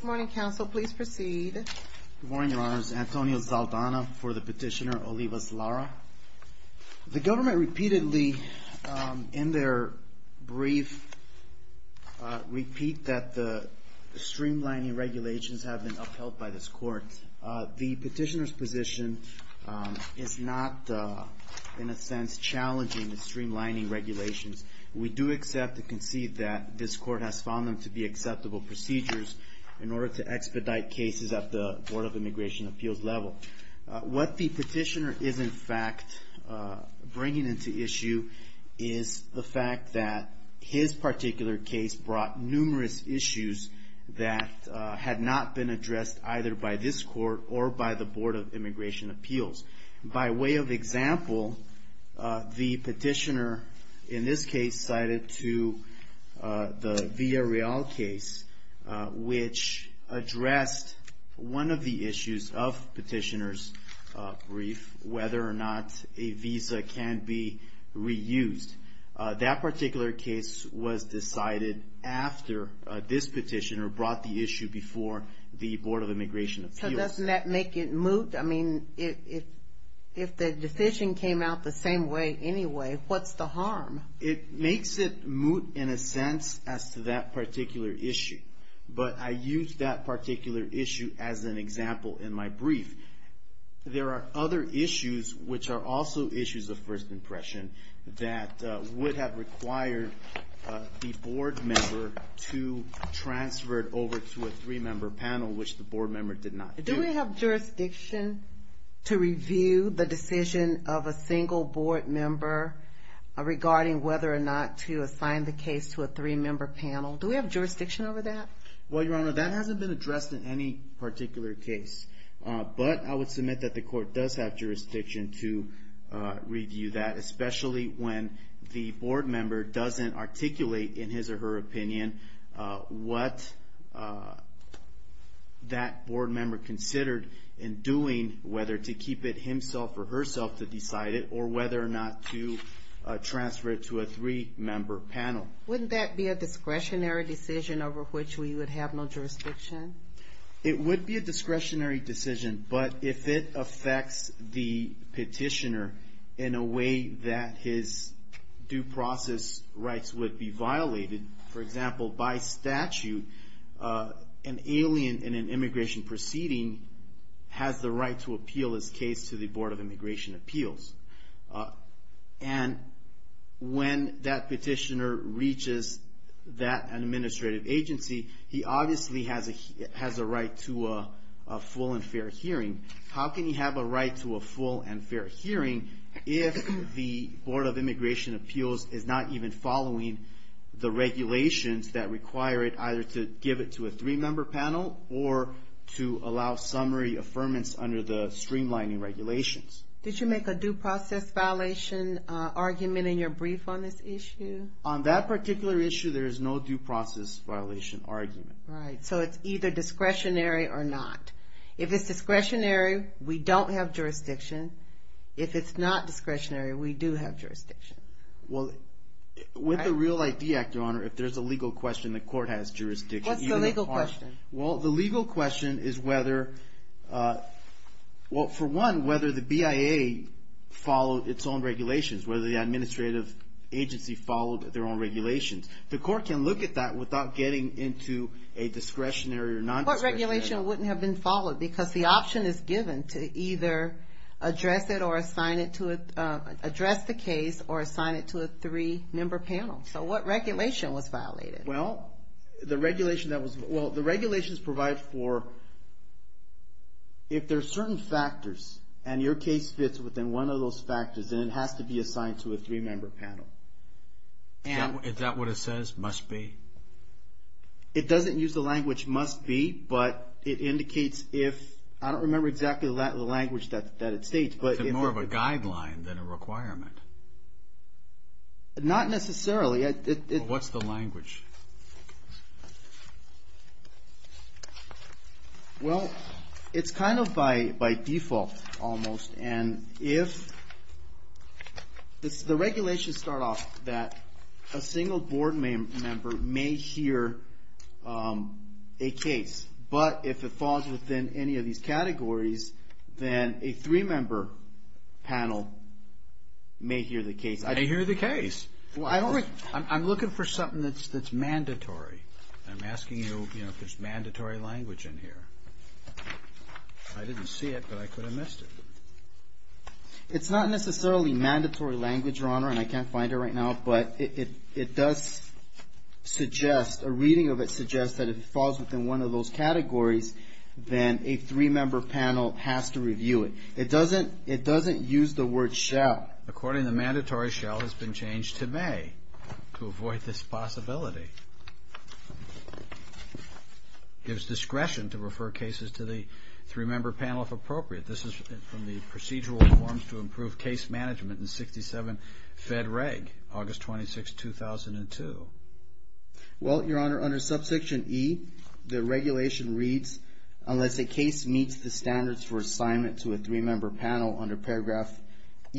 Good morning, counsel. Please proceed. Good morning, Your Honors. Antonio Zaldana for the petitioner OLIVAS-LARA. The government repeatedly, in their brief, repeat that the streamlining regulations have been upheld by this court. The petitioner's position is not, in a sense, challenging the streamlining regulations. We do accept and concede that this court has found them to be acceptable procedures in order to expedite cases at the Board of Immigration Appeals level. What the petitioner is, in fact, bringing into issue is the fact that his particular case brought numerous issues that had not been addressed either by this court or by the Board of Immigration Appeals. By way of example, the petitioner, in this case, cited to the Villarreal case, which addressed one of the issues of petitioner's brief, whether or not a visa can be reused. That particular case was decided after this hearing. So doesn't that make it moot? I mean, if the decision came out the same way anyway, what's the harm? It makes it moot, in a sense, as to that particular issue. But I use that particular issue as an example in my brief. There are other issues, which are also issues of first impression, that would have required the board member to transfer it over to a three-member panel, which the board member did not do. Do we have jurisdiction to review the decision of a single board member regarding whether or not to assign the case to a three-member panel? Do we have jurisdiction over that? Well, Your Honor, that hasn't been addressed in any particular case. But I would submit that the court does have jurisdiction to review that, especially when the board member doesn't articulate in his or her opinion what that board member considered in doing, whether to keep it himself or herself to decide it, or whether or not to transfer it to a three-member panel. Wouldn't that be a discretionary decision over which we would have no jurisdiction? It would be a discretionary decision. But if it affects the petitioner in a way that his due process rights would be violated, for example, by statute, an alien in an immigration proceeding has the right to appeal his case to the Board of Immigration Appeals. And when that petitioner reaches that administrative agency, he obviously has a right to a full and fair hearing. How can he have a right to a full and fair hearing if the Board of Immigration Appeals is not even following the regulations that require it either to give it to a three-member panel or to allow summary affirmance under the streamlining regulations? Did you make a due process violation argument in your brief on this issue? On that particular issue, there is no due process violation argument. So it's either discretionary or not. If it's discretionary, we don't have jurisdiction. If it's not discretionary, we do have jurisdiction. Well, with the REAL ID Act, Your Honor, if there's a legal question, the court has jurisdiction. What's the legal question? Well, the legal question is whether, for one, whether the BIA followed its own regulations, whether the administrative agency followed their own regulations. The court can look at that without getting into a discretionary or non-discretionary. What regulation wouldn't have been followed because the option is given to either address it or assign it to a, address the case or assign it to a three-member panel. So what regulation was violated? Well, the regulation that was, well, the regulations provide for, if there are certain factors and your case fits within one of those factors, then it has to be assigned to a three-member panel. Is that what it says, must be? It doesn't use the language must be, but it indicates if, I don't remember exactly the language that it states, but if it's a guideline than a requirement. Not necessarily. Well, what's the language? Well, it's kind of by, by default almost. And if the regulations start off that a single board member may hear a case, but if it falls within any of these categories, then a three-member panel may hear the case. They hear the case. Well, I don't, I'm looking for something that's, that's mandatory. I'm asking you, you know, if there's mandatory language in here. I didn't see it, but I could have missed it. It's not necessarily mandatory language, Your Honor, and I can't find it right now, but it, it, it does suggest, a reading of it suggests that if it falls within one of those categories, then a three-member panel has to review it. It doesn't, it doesn't use the word shall. According to the mandatory, shall has been changed to may, to avoid this possibility. Gives discretion to refer cases to the three-member panel if appropriate. This is from the Procedural Forms to Improve Case Management in 67 Fed Reg, August 26, 2002. Well, Your Honor, under Subsection E, the regulation reads, unless a case meets the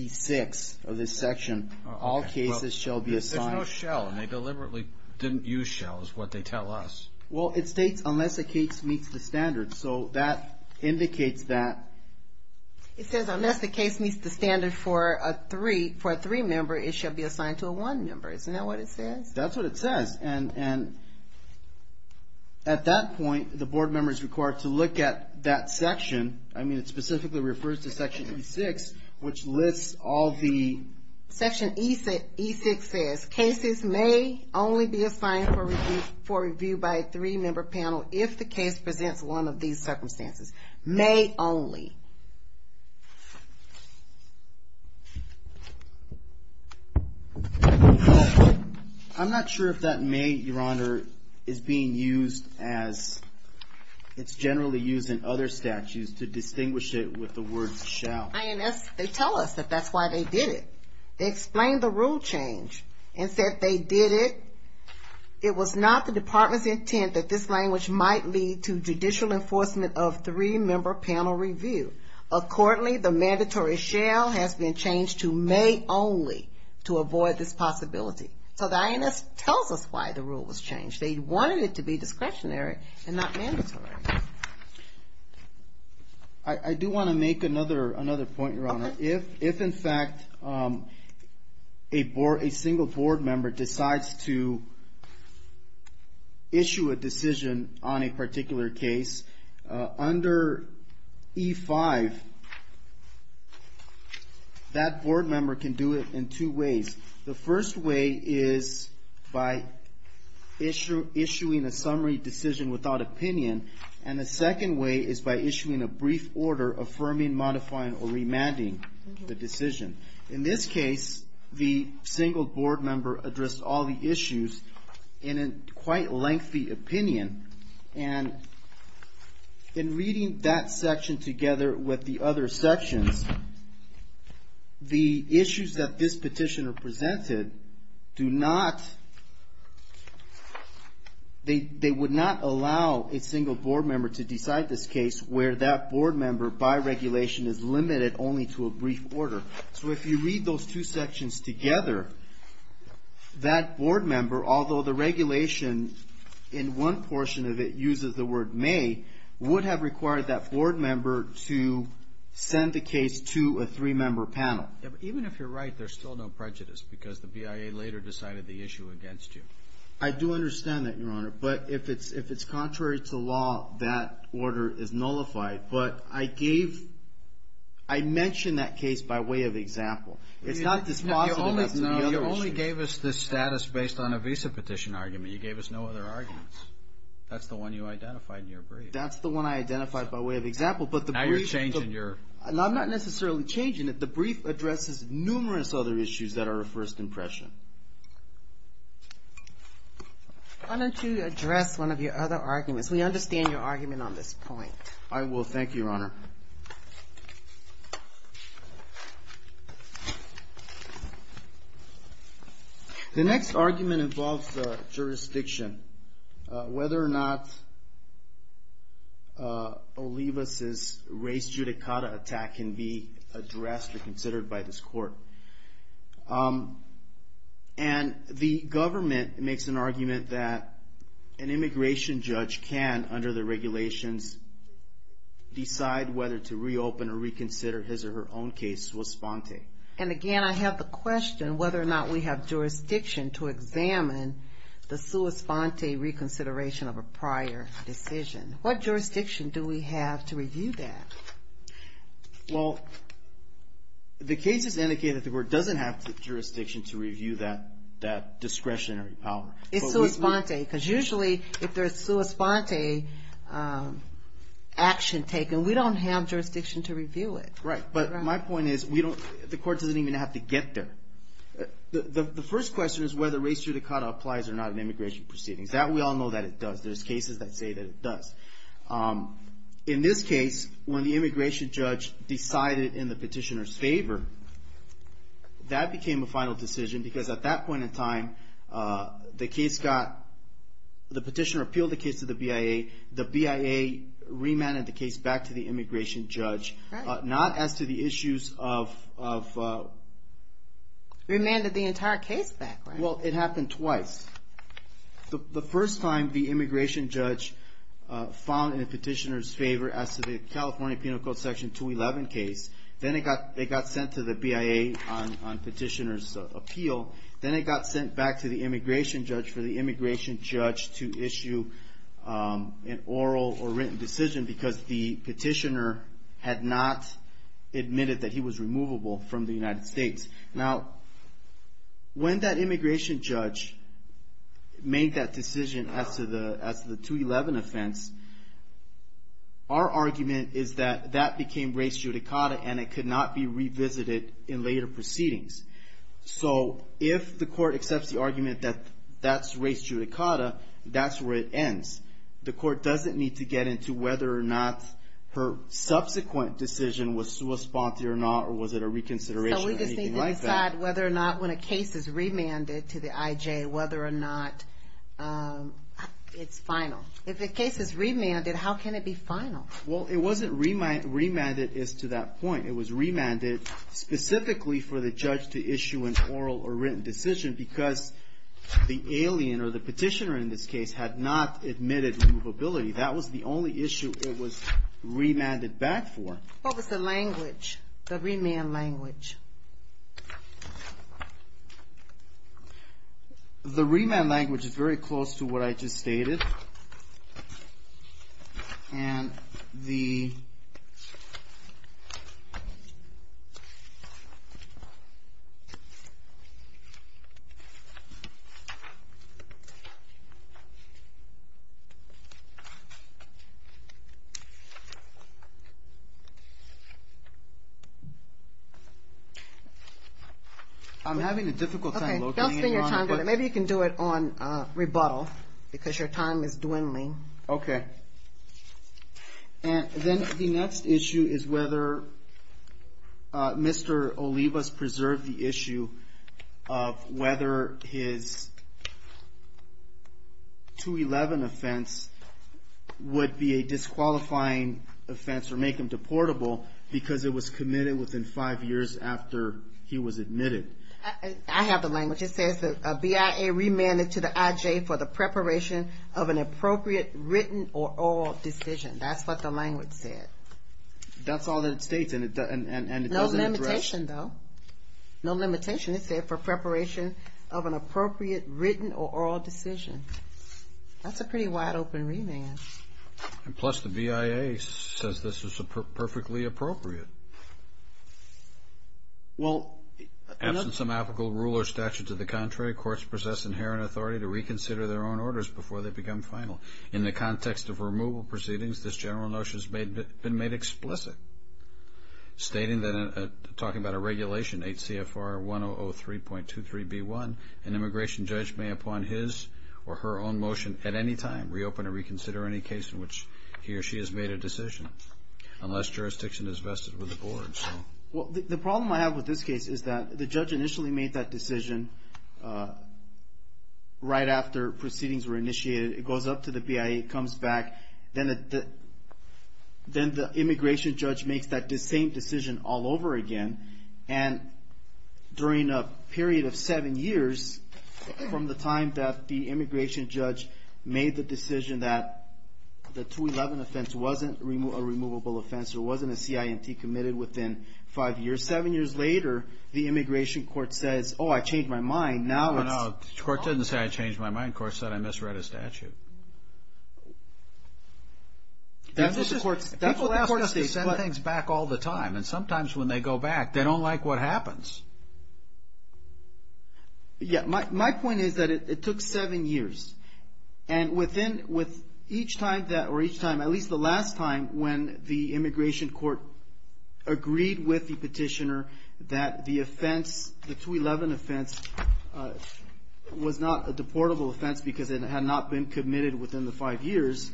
six of this section, all cases shall be assigned. There's no shall, and they deliberately didn't use shall is what they tell us. Well, it states, unless a case meets the standard, so that indicates that. It says, unless the case meets the standard for a three, for a three-member, it shall be assigned to a one-member. Isn't that what it says? That's what it says, and, and at that point, the board member is required to look at that And the Section E6 says, cases may only be assigned for review by a three-member panel if the case presents one of these circumstances. May only. I'm not sure if that may, Your Honor, is being used as, it's generally used in other statutes to distinguish it with the word shall. Well, INS, they tell us that that's why they did it. They explained the rule change and said they did it. It was not the department's intent that this language might lead to judicial enforcement of three-member panel review. Accordingly, the mandatory shall has been changed to may only to avoid this possibility. So the INS tells us why the rule was changed. They wanted it to be discretionary and not mandatory. I, I do want to make another, another point, Your Honor. If, if in fact a board, a single board member decides to issue a decision on a particular case under E5, that board member can do it in two ways. The first way is by issue, issuing a summary decision without opinion. And the second way is by issuing a brief order affirming, modifying, or remanding the decision. In this case, the single board member addressed all the issues in a quite lengthy opinion. And in reading that section together with the other sections, the issues that this petition presented do not, they, they would not allow a single board member to decide this case where that board member, by regulation, is limited only to a brief order. So if you read those two sections together, that board member, although the regulation in one portion of it uses the word may, would have required that board member to send the case to a three-member panel. But even if you're right, there's still no prejudice because the BIA later decided the issue against you. I do understand that, Your Honor. But if it's, if it's contrary to law, that order is nullified. But I gave, I mentioned that case by way of example. It's not dispositive. That's another issue. You only, you only gave us this status based on a visa petition argument. You gave us no other arguments. That's the one you identified in your brief. That's the one I identified by way of example. But the brief... Now you're changing your... I'm not necessarily changing it. The brief addresses numerous other issues that are a first impression. Why don't you address one of your other arguments? We understand your argument on this point. I will. Thank you, Your Honor. The next argument involves jurisdiction. Whether or not Olivas' race judicata attack can be addressed or considered by this court. And the government makes an argument that an immigration judge can, under the regulations, decide whether to reopen or reconsider his or her own case sua sponte. And again, I have the question whether or not we have jurisdiction to examine the sua sponte reconsideration of a prior decision. What jurisdiction do we have to review that? Well, the case is indicated that the court doesn't have jurisdiction to review that discretionary power. It's sua sponte. Because usually if there's sua sponte action taken, we don't have jurisdiction to review it. Right. But my point is, the court doesn't even have to get there. The first question is whether race judicata applies or not in immigration proceedings. That we all know that it does. There's cases that say that it does. In this case, when the immigration judge decided in the petitioner's favor, that became a final decision. Because at that point in time, the petitioner appealed the case to the BIA, the BIA remanded the case back to the immigration judge. Not as to the issues of... Remanded the entire case back, right? Well, it happened twice. The first time, the immigration judge found in the petitioner's favor as to the California Penal Code Section 211 case. Then it got sent to the BIA on petitioner's appeal. Then it got sent back to the immigration judge for the immigration judge to issue an oral or written decision because the petitioner had not admitted that he was removable from the United States. Now, when that immigration judge made that decision as to the 211 offense, our argument is that that became race judicata and it could not be revisited in later proceedings. So if the court accepts the argument that that's race judicata, that's where it ends. The court doesn't need to get into whether or not her subsequent decision was sua sponte or not, or was it a reconsideration or anything like that. So we just need to decide whether or not when a case is remanded to the IJ, whether or not it's final. If the case is remanded, how can it be final? Well, it wasn't remanded as to that point. It was remanded specifically for the judge to issue an oral or written decision because the alien or the petitioner in this case had not admitted removability. That was the only issue it was remanded back for. What was the language, the remand language? The remand language is very close to what I just stated and the I'm having a difficult time locating it, Your Honor. Maybe you can do it on rebuttal because your time is dwindling. Okay. And then the next issue is whether Mr. Olivas preserved the issue of whether his 2-11 offense would be a disqualifying offense or make him deportable because it was committed within five years after he was admitted. I have the language. It says the BIA remanded to the IJ for the preparation of an appropriate written or oral decision. That's what the language said. That's all that it states and it doesn't address. No limitation, though. No limitation. It said for preparation of an appropriate written or oral decision. That's a pretty wide open remand. And plus the BIA says this is perfectly appropriate. Well... Absent some applicable rule or statute to the contrary, courts possess inherent authority to reconsider their own orders before they become final. In the context of removal proceedings, this general notion has been made explicit, stating that talking about a regulation, H.C.F.R. 1003.23b1, an immigration judge may upon his or her own motion at any time reopen or reconsider any case in which he or she has made a decision unless jurisdiction is vested with the board. Well, the problem I have with this case is that the judge initially made that decision right after proceedings were initiated. It goes up to the BIA. It comes back. Then the immigration judge makes that same decision all over again. And during a period of seven years from the time that the immigration judge made the decision that the 211 offense wasn't a removable offense or wasn't a CIMT committed within five years, seven years later, the immigration court says, oh, I changed my mind. No, no. The court didn't say I changed my mind. The court said I misread a statute. People ask us to send things back all the time. And sometimes when they go back, they don't like what happens. Yeah. My point is that it took seven years. And with each time that or each time, at least the last time when the immigration court agreed with the petitioner that the offense, the 211 offense, was not a deportable offense because it had not been committed within the five years,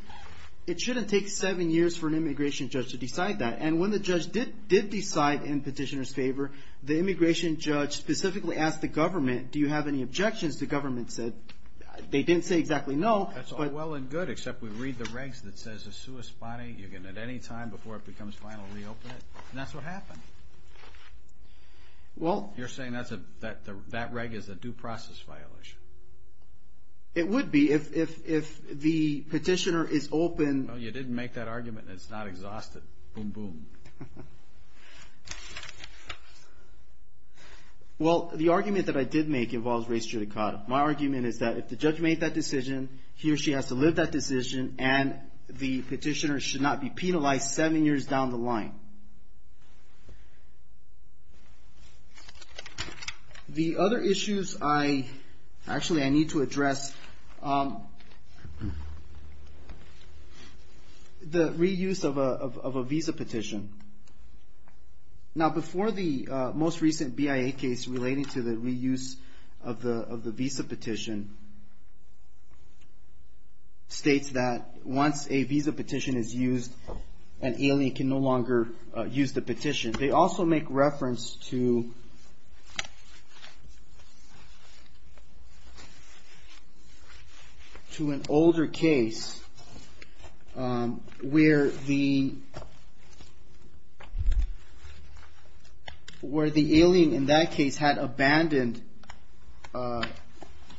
it shouldn't take seven years for an immigration judge to decide that. And when the judge did decide in petitioner's favor, the immigration judge specifically asked the government, do you have any objections? The government said, they didn't say exactly no. That's all well and good, except we read the regs that says a sui spani, you can at any time before it becomes final reopen it. And that's what happened. You're saying that reg is a due process violation? It would be if the petitioner is open. Well, you didn't make that argument and it's not exhausted. Boom, boom. Well, the argument that I did make involves race judicata. My argument is that if the judge made that decision, he or she has to live that decision and the petitioner should not be penalized seven years down the line. The other issues I, actually I need to address, the reuse of a visa petition. Now before the most recent BIA case relating to the reuse of the visa petition states that once a visa petition is used, an alien can no longer use the petition. They also make reference to an older case where the alien in that case had abandoned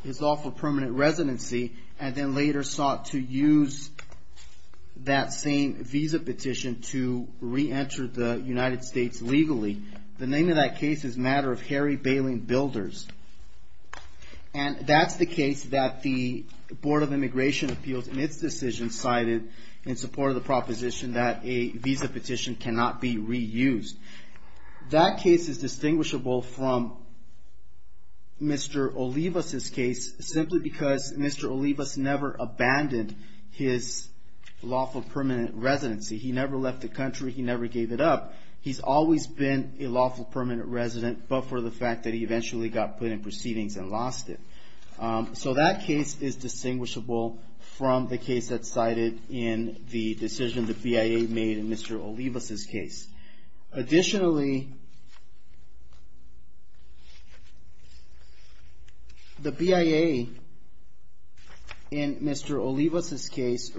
his lawful permanent residency and then later sought to use that same visa petition to reenter the United States legally. The name of that case is matter of hairy bailing builders. And that's the case that the Board of Immigration Appeals in its decision cited in support of the proposition that a visa petition cannot be reused. That case is distinguishable from Mr. Olivas' case simply because Mr. Olivas never abandoned his lawful permanent residency. He never left the country. He never gave it up. He's always been a lawful permanent resident but for the fact that he eventually got put in proceedings and lost it. So that case is distinguishable from the case that's cited in the decision the BIA made in Mr. Olivas' case. Additionally, the BIA in Mr. Olivas' case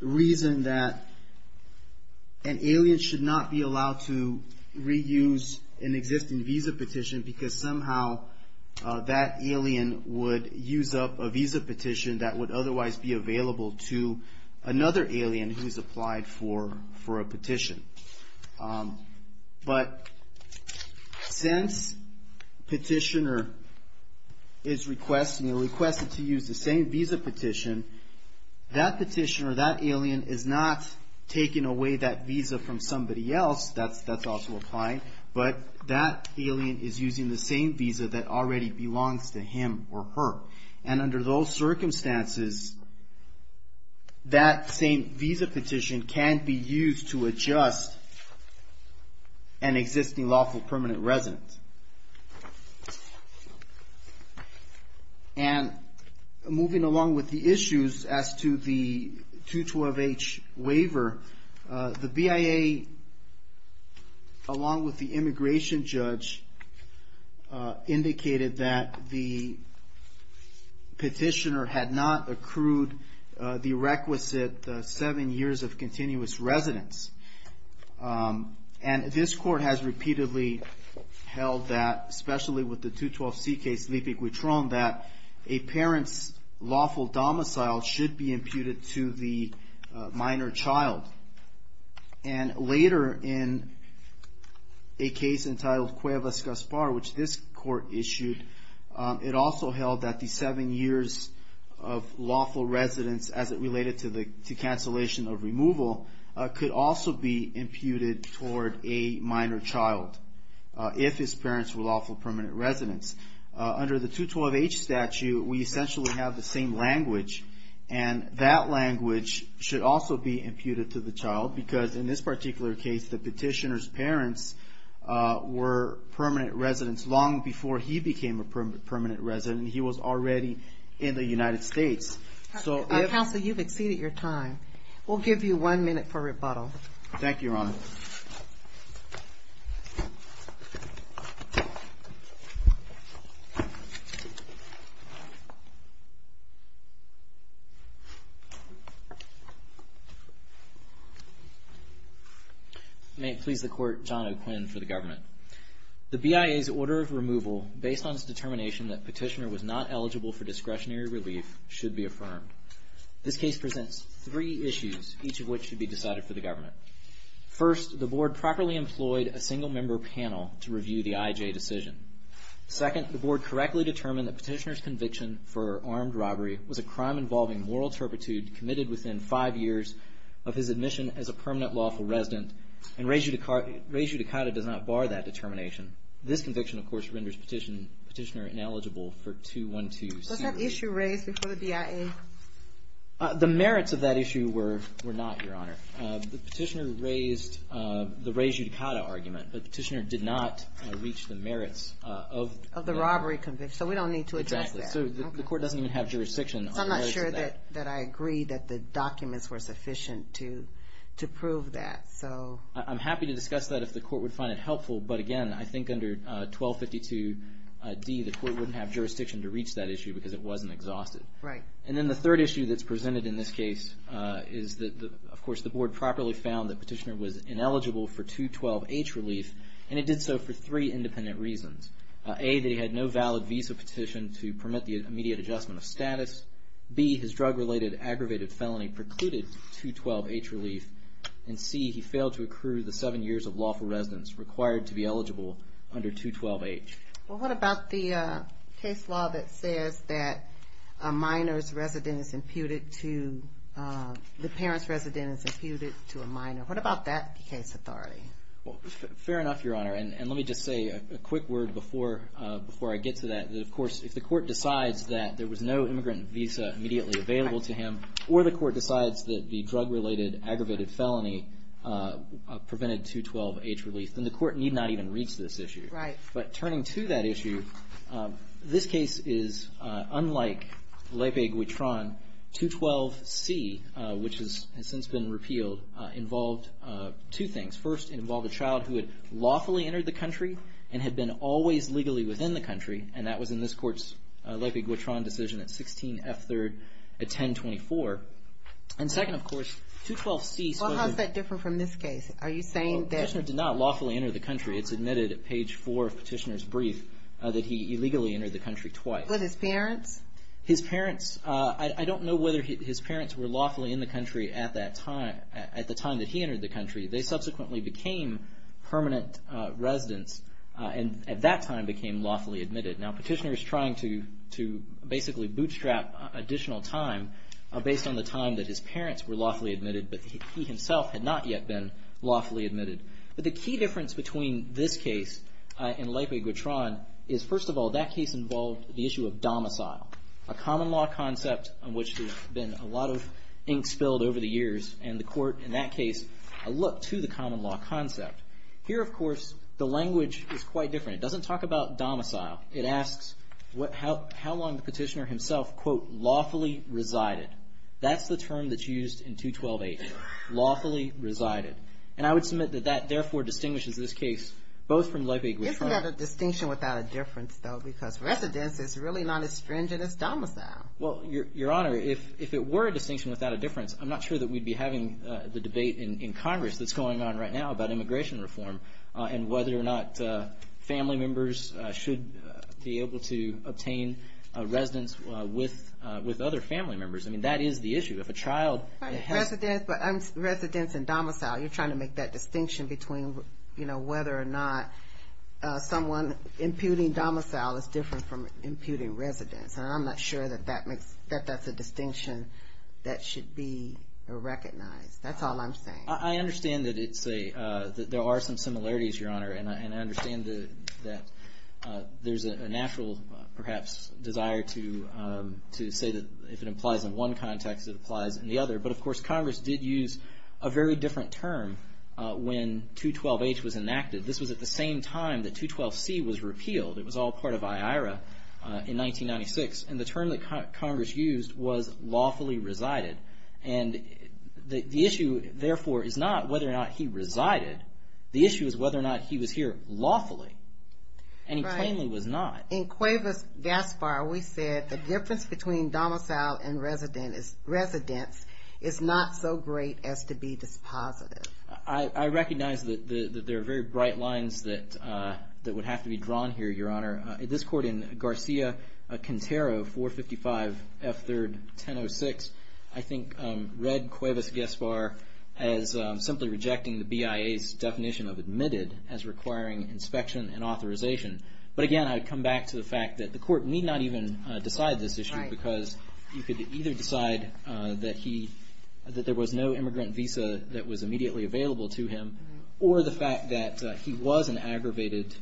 reasoned that an alien should not be allowed to reuse an existing visa petition because somehow that alien would use up a visa petition that would otherwise be available to another alien who's applied for a petition. But since petitioner is requested to use the same visa petition, that petitioner, that alien is not taking away that visa from somebody else. That's also applied. But that alien is using the same visa that already belongs to him or her. And under those circumstances, that same visa petition can be used to adjust an existing lawful permanent resident. And moving along with the issues as to the 212H waiver, the BIA, along with the immigration judge, indicated that the petitioner had not accrued the requisite seven years of continuous residence. And this court has repeatedly held that, especially with the 212C case, Lipe Guitron, that a parent's lawful domicile should be imputed to the minor child. And later in a case entitled Cuevas-Gaspar, which this court issued, it also held that the seven years of lawful residence as it related to the cancellation of removal could also be imputed toward a minor child if his parents were lawful permanent residents. Under the 212H statute, we essentially have the same language, and that language should also be imputed to the child. Because in this particular case, the petitioner's parents were permanent residents long before he became a permanent resident. He was already in the United States. Counsel, you've exceeded your time. We'll give you one minute for rebuttal. Thank you, Your Honor. Thank you. May it please the Court, John O'Quinn for the Government. The BIA's order of removal, based on its determination that petitioner was not eligible for discretionary relief, should be affirmed. This case presents three issues, each of which should be decided for the Government. First, the Board properly employed a single-member panel to review the IJ decision. Second, the Board correctly determined that petitioner's conviction for armed robbery was a crime involving moral turpitude committed within five years of his admission as a permanent lawful resident, and rejudicata does not bar that determination. This conviction, of course, renders petitioner ineligible for 212C. Was that issue raised before the BIA? The merits of that issue were not, Your Honor. The petitioner raised the rejudicata argument, but the petitioner did not reach the merits of the robbery conviction. So we don't need to address that. Exactly. So the Court doesn't even have jurisdiction on the merits of that. So I'm not sure that I agree that the documents were sufficient to prove that. I'm happy to discuss that if the Court would find it helpful, but again, I think under 1252D, the Court wouldn't have jurisdiction to reach that issue because it wasn't exhausted. Right. And then the third issue that's presented in this case is that, of course, the Board properly found that petitioner was ineligible for 212H relief, and it did so for three independent reasons. A, that he had no valid visa petition to permit the immediate adjustment of status. B, his drug-related aggravated felony precluded 212H relief. And C, he failed to accrue the seven years of lawful residence required to be eligible under 212H. Well, what about the case law that says that a minor's residence is imputed to, the parent's residence is imputed to a minor? What about that case authority? Well, fair enough, Your Honor, and let me just say a quick word before I get to that. Of course, if the Court decides that there was no immigrant visa immediately available to him, or the Court decides that the drug-related aggravated felony prevented 212H relief, then the Court need not even reach this issue. Right. But turning to that issue, this case is, unlike Lepe-Guitron, 212C, which has since been repealed, involved two things. First, it involved a child who had lawfully entered the country and had been always legally within the country, and that was in this Court's Lepe-Guitron decision at 16F3rd at 1024. And second, of course, 212C. Well, how's that different from this case? Are you saying that... that he illegally entered the country twice? With his parents? His parents... I don't know whether his parents were lawfully in the country at the time that he entered the country. They subsequently became permanent residents and at that time became lawfully admitted. Now, Petitioner is trying to basically bootstrap additional time based on the time that his parents were lawfully admitted, but he himself had not yet been lawfully admitted. But the key difference between this case and Lepe-Guitron is, first of all, that case involved the issue of domicile, a common law concept on which there's been a lot of ink spilled over the years, and the Court, in that case, looked to the common law concept. Here, of course, the language is quite different. It doesn't talk about domicile. It asks how long the Petitioner himself, quote, lawfully resided. That's the term that's used in 212A here, lawfully resided. And I would submit that that, therefore, distinguishes this case both from Lepe-Guitron... Isn't that a distinction without a difference, though? Because residence is really not as stringent as domicile. Well, Your Honor, if it were a distinction without a difference, I'm not sure that we'd be having the debate in Congress that's going on right now about immigration reform and whether or not family members should be able to obtain residence with other family members. I mean, that is the issue. But residence and domicile, you're trying to make that distinction between, you know, whether or not someone imputing domicile is different from imputing residence. And I'm not sure that that's a distinction that should be recognized. That's all I'm saying. I understand that there are some similarities, Your Honor, and I understand that there's a natural, perhaps, desire to say that if it applies in one context, it applies in the other. But, of course, Congress did use a very different term when 212H was enacted. This was at the same time that 212C was repealed. It was all part of IARA in 1996. And the term that Congress used was lawfully resided. And the issue, therefore, is not whether or not he resided. The issue is whether or not he was here lawfully. And he plainly was not. In Cuevas-Gaspar, we said the difference between domicile and residence is not so great as to be dispositive. I recognize that there are very bright lines that would have to be drawn here, Your Honor. This court in Garcia-Quintero, 455 F. 3rd, 1006, I think read Cuevas-Gaspar as simply rejecting the BIA's definition of admitted as requiring inspection and authorization. But, again, I would come back to the fact that the court need not even decide this issue because you could either decide that there was no immigrant visa that was immediately available to him or the fact that he was an aggravated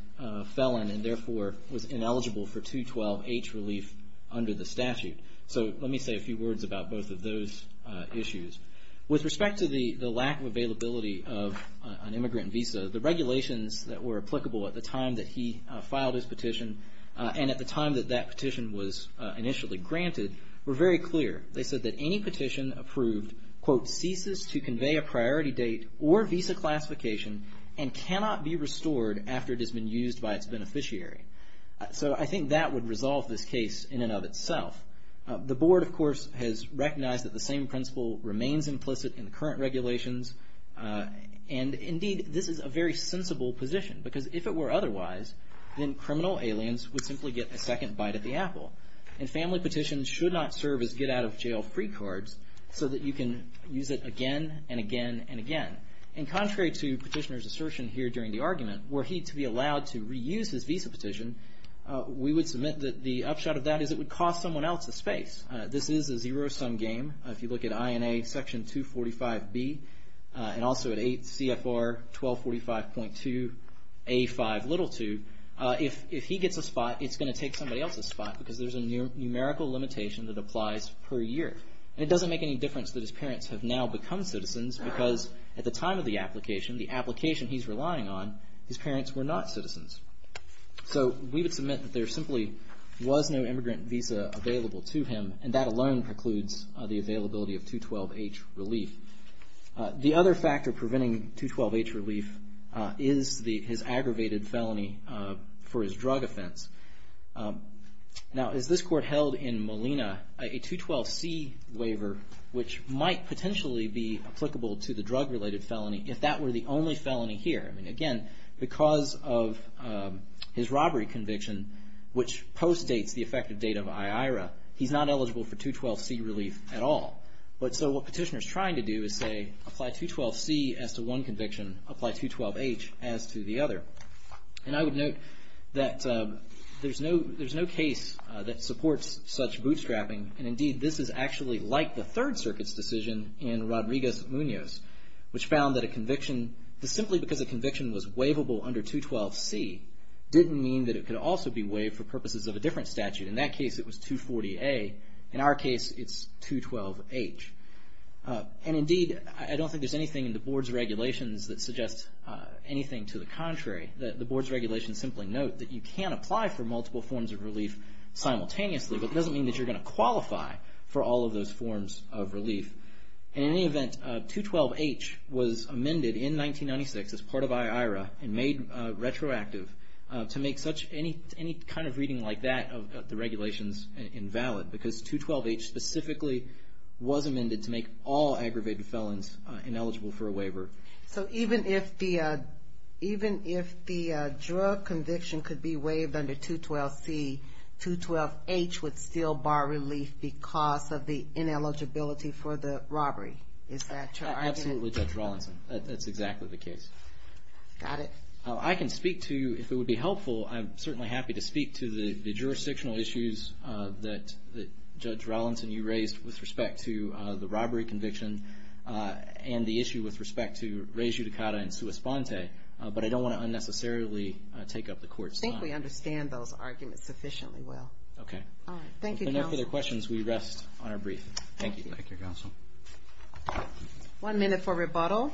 felon and, therefore, was ineligible for 212H relief under the statute. So let me say a few words about both of those issues. With respect to the lack of availability of an immigrant visa, the regulations that were applicable at the time that he filed his petition and at the time that that petition was initially granted were very clear. They said that any petition approved, quote, ceases to convey a priority date or visa classification and cannot be restored after it has been used by its beneficiary. So I think that would resolve this case in and of itself. The board, of course, has recognized that the same principle remains implicit in the current regulations. And, indeed, this is a very sensible position because if it were otherwise, then criminal aliens would simply get a second bite at the apple. And family petitions should not serve as get-out-of-jail-free cards so that you can use it again and again and again. And contrary to Petitioner's assertion here during the argument, were he to be allowed to reuse his visa petition, we would submit that the upshot of that is it would cost someone else a space. This is a zero-sum game. If you look at INA Section 245B and also at CFR 1245.2A52, if he gets a spot, it's going to take somebody else a spot because there's a numerical limitation that applies per year. And it doesn't make any difference that his parents have now become citizens because at the time of the application, the application he's relying on, his parents were not citizens. So we would submit that there simply was no immigrant visa available to him and that alone precludes the availability of 212H relief. The other factor preventing 212H relief is his aggravated felony for his drug offense. Now, as this court held in Molina, a 212C waiver, which might potentially be applicable to the drug-related felony if that were the only felony here. I mean, again, because of his robbery conviction, which postdates the effective date of IIRA, he's not eligible for 212C relief at all. So what Petitioner's trying to do is say, apply 212C as to one conviction, apply 212H as to the other. And I would note that there's no case that supports such bootstrapping, and indeed this is actually like the Third Circuit's decision in Rodriguez-Munoz, which found that a conviction, that simply because a conviction was waivable under 212C didn't mean that it could also be waived for purposes of a different statute. In that case, it was 240A. In our case, it's 212H. And indeed, I don't think there's anything in the Board's regulations that suggests anything to the contrary. The Board's regulations simply note that you can apply for multiple forms of relief simultaneously, but it doesn't mean that you're going to qualify for all of those forms of relief. In any event, 212H was amended in 1996 as part of IIRA and made retroactive to make any kind of reading like that of the regulations invalid, because 212H specifically was amended to make all aggravated felons ineligible for a waiver. So even if the drug conviction could be waived under 212C, 212H would still bar relief because of the ineligibility for the robbery. Is that your argument? Absolutely, Judge Rawlinson. That's exactly the case. Got it. I can speak to, if it would be helpful, I'm certainly happy to speak to the jurisdictional issues that Judge Rawlinson, you raised with respect to the robbery conviction and the issue with respect to res judicata and sua sponte, but I don't want to unnecessarily take up the Court's time. I think we understand those arguments sufficiently well. Okay. All right. Thank you, Counsel. If there are no further questions, we rest on our brief. Thank you. Thank you, Counsel. One minute for rebuttal.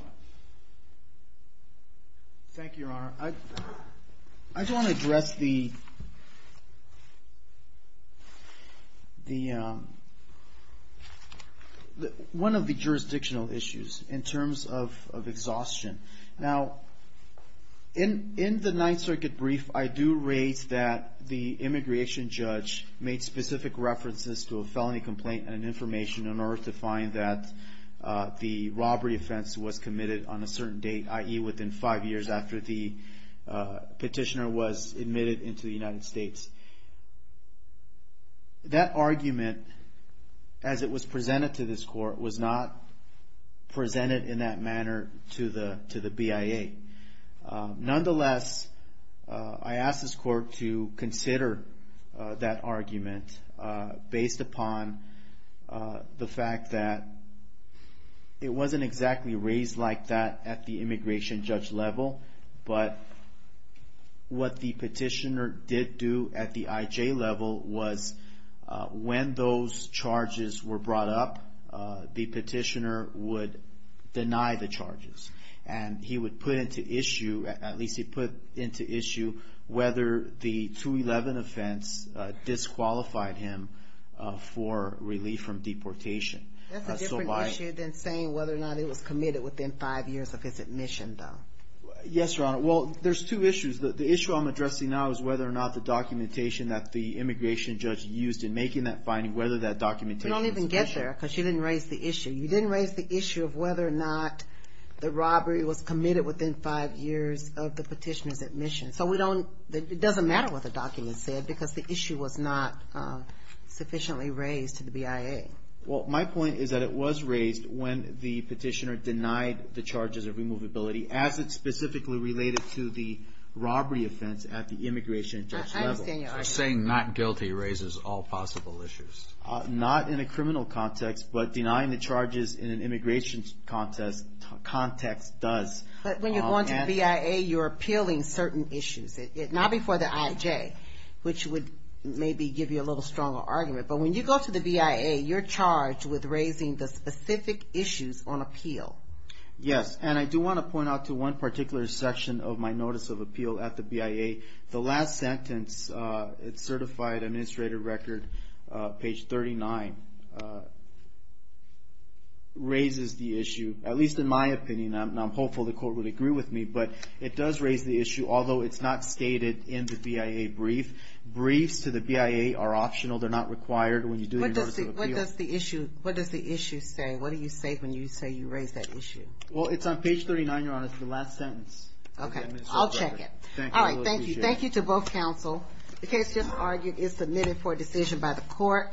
Thank you, Your Honor. I just want to address one of the jurisdictional issues in terms of exhaustion. Now, in the Ninth Circuit brief, I do raise that the immigration judge made specific references to a felony complaint and information in order to find that the robbery offense was committed on a certain date, i.e., within five years after the petitioner was admitted into the United States. That argument, as it was presented to this Court, was not presented in that manner to the BIA. Nonetheless, I ask this Court to consider that argument based upon the fact that it wasn't exactly raised like that at the immigration judge level, but what the petitioner did do at the IJ level was, when those charges were brought up, the petitioner would deny the charges. And he would put into issue, at least he put into issue, whether the 211 offense disqualified him for relief from deportation. That's a different issue than saying whether or not it was committed within five years of his admission, though. Yes, Your Honor. Well, there's two issues. The issue I'm addressing now is whether or not the documentation that the immigration judge used in making that finding, whether that documentation was sufficient. You don't even get there, because you didn't raise the issue. You didn't raise the issue of whether or not the robbery was committed within five years of the petitioner's admission. So it doesn't matter what the document said, because the issue was not sufficiently raised to the BIA. Well, my point is that it was raised when the petitioner denied the charges of removability, as it specifically related to the robbery offense at the immigration judge level. I understand your argument. So saying not guilty raises all possible issues. Not in a criminal context, but denying the charges in an immigration context does. But when you're going to the BIA, you're appealing certain issues, not before the IJ, which would maybe give you a little stronger argument. But when you go to the BIA, you're charged with raising the specific issues on appeal. Yes, and I do want to point out to one particular section of my notice of appeal at the BIA. The last sentence, it's certified administrative record, page 39, raises the issue. At least in my opinion. I'm hopeful the court would agree with me. But it does raise the issue, although it's not stated in the BIA brief. Briefs to the BIA are optional. They're not required when you do your notice of appeal. What does the issue say? What do you say when you say you raise that issue? Well, it's on page 39, Your Honor, it's the last sentence. Okay, I'll check it. All right, thank you. Thank you to both counsel. The case just argued is submitted for decision by the court.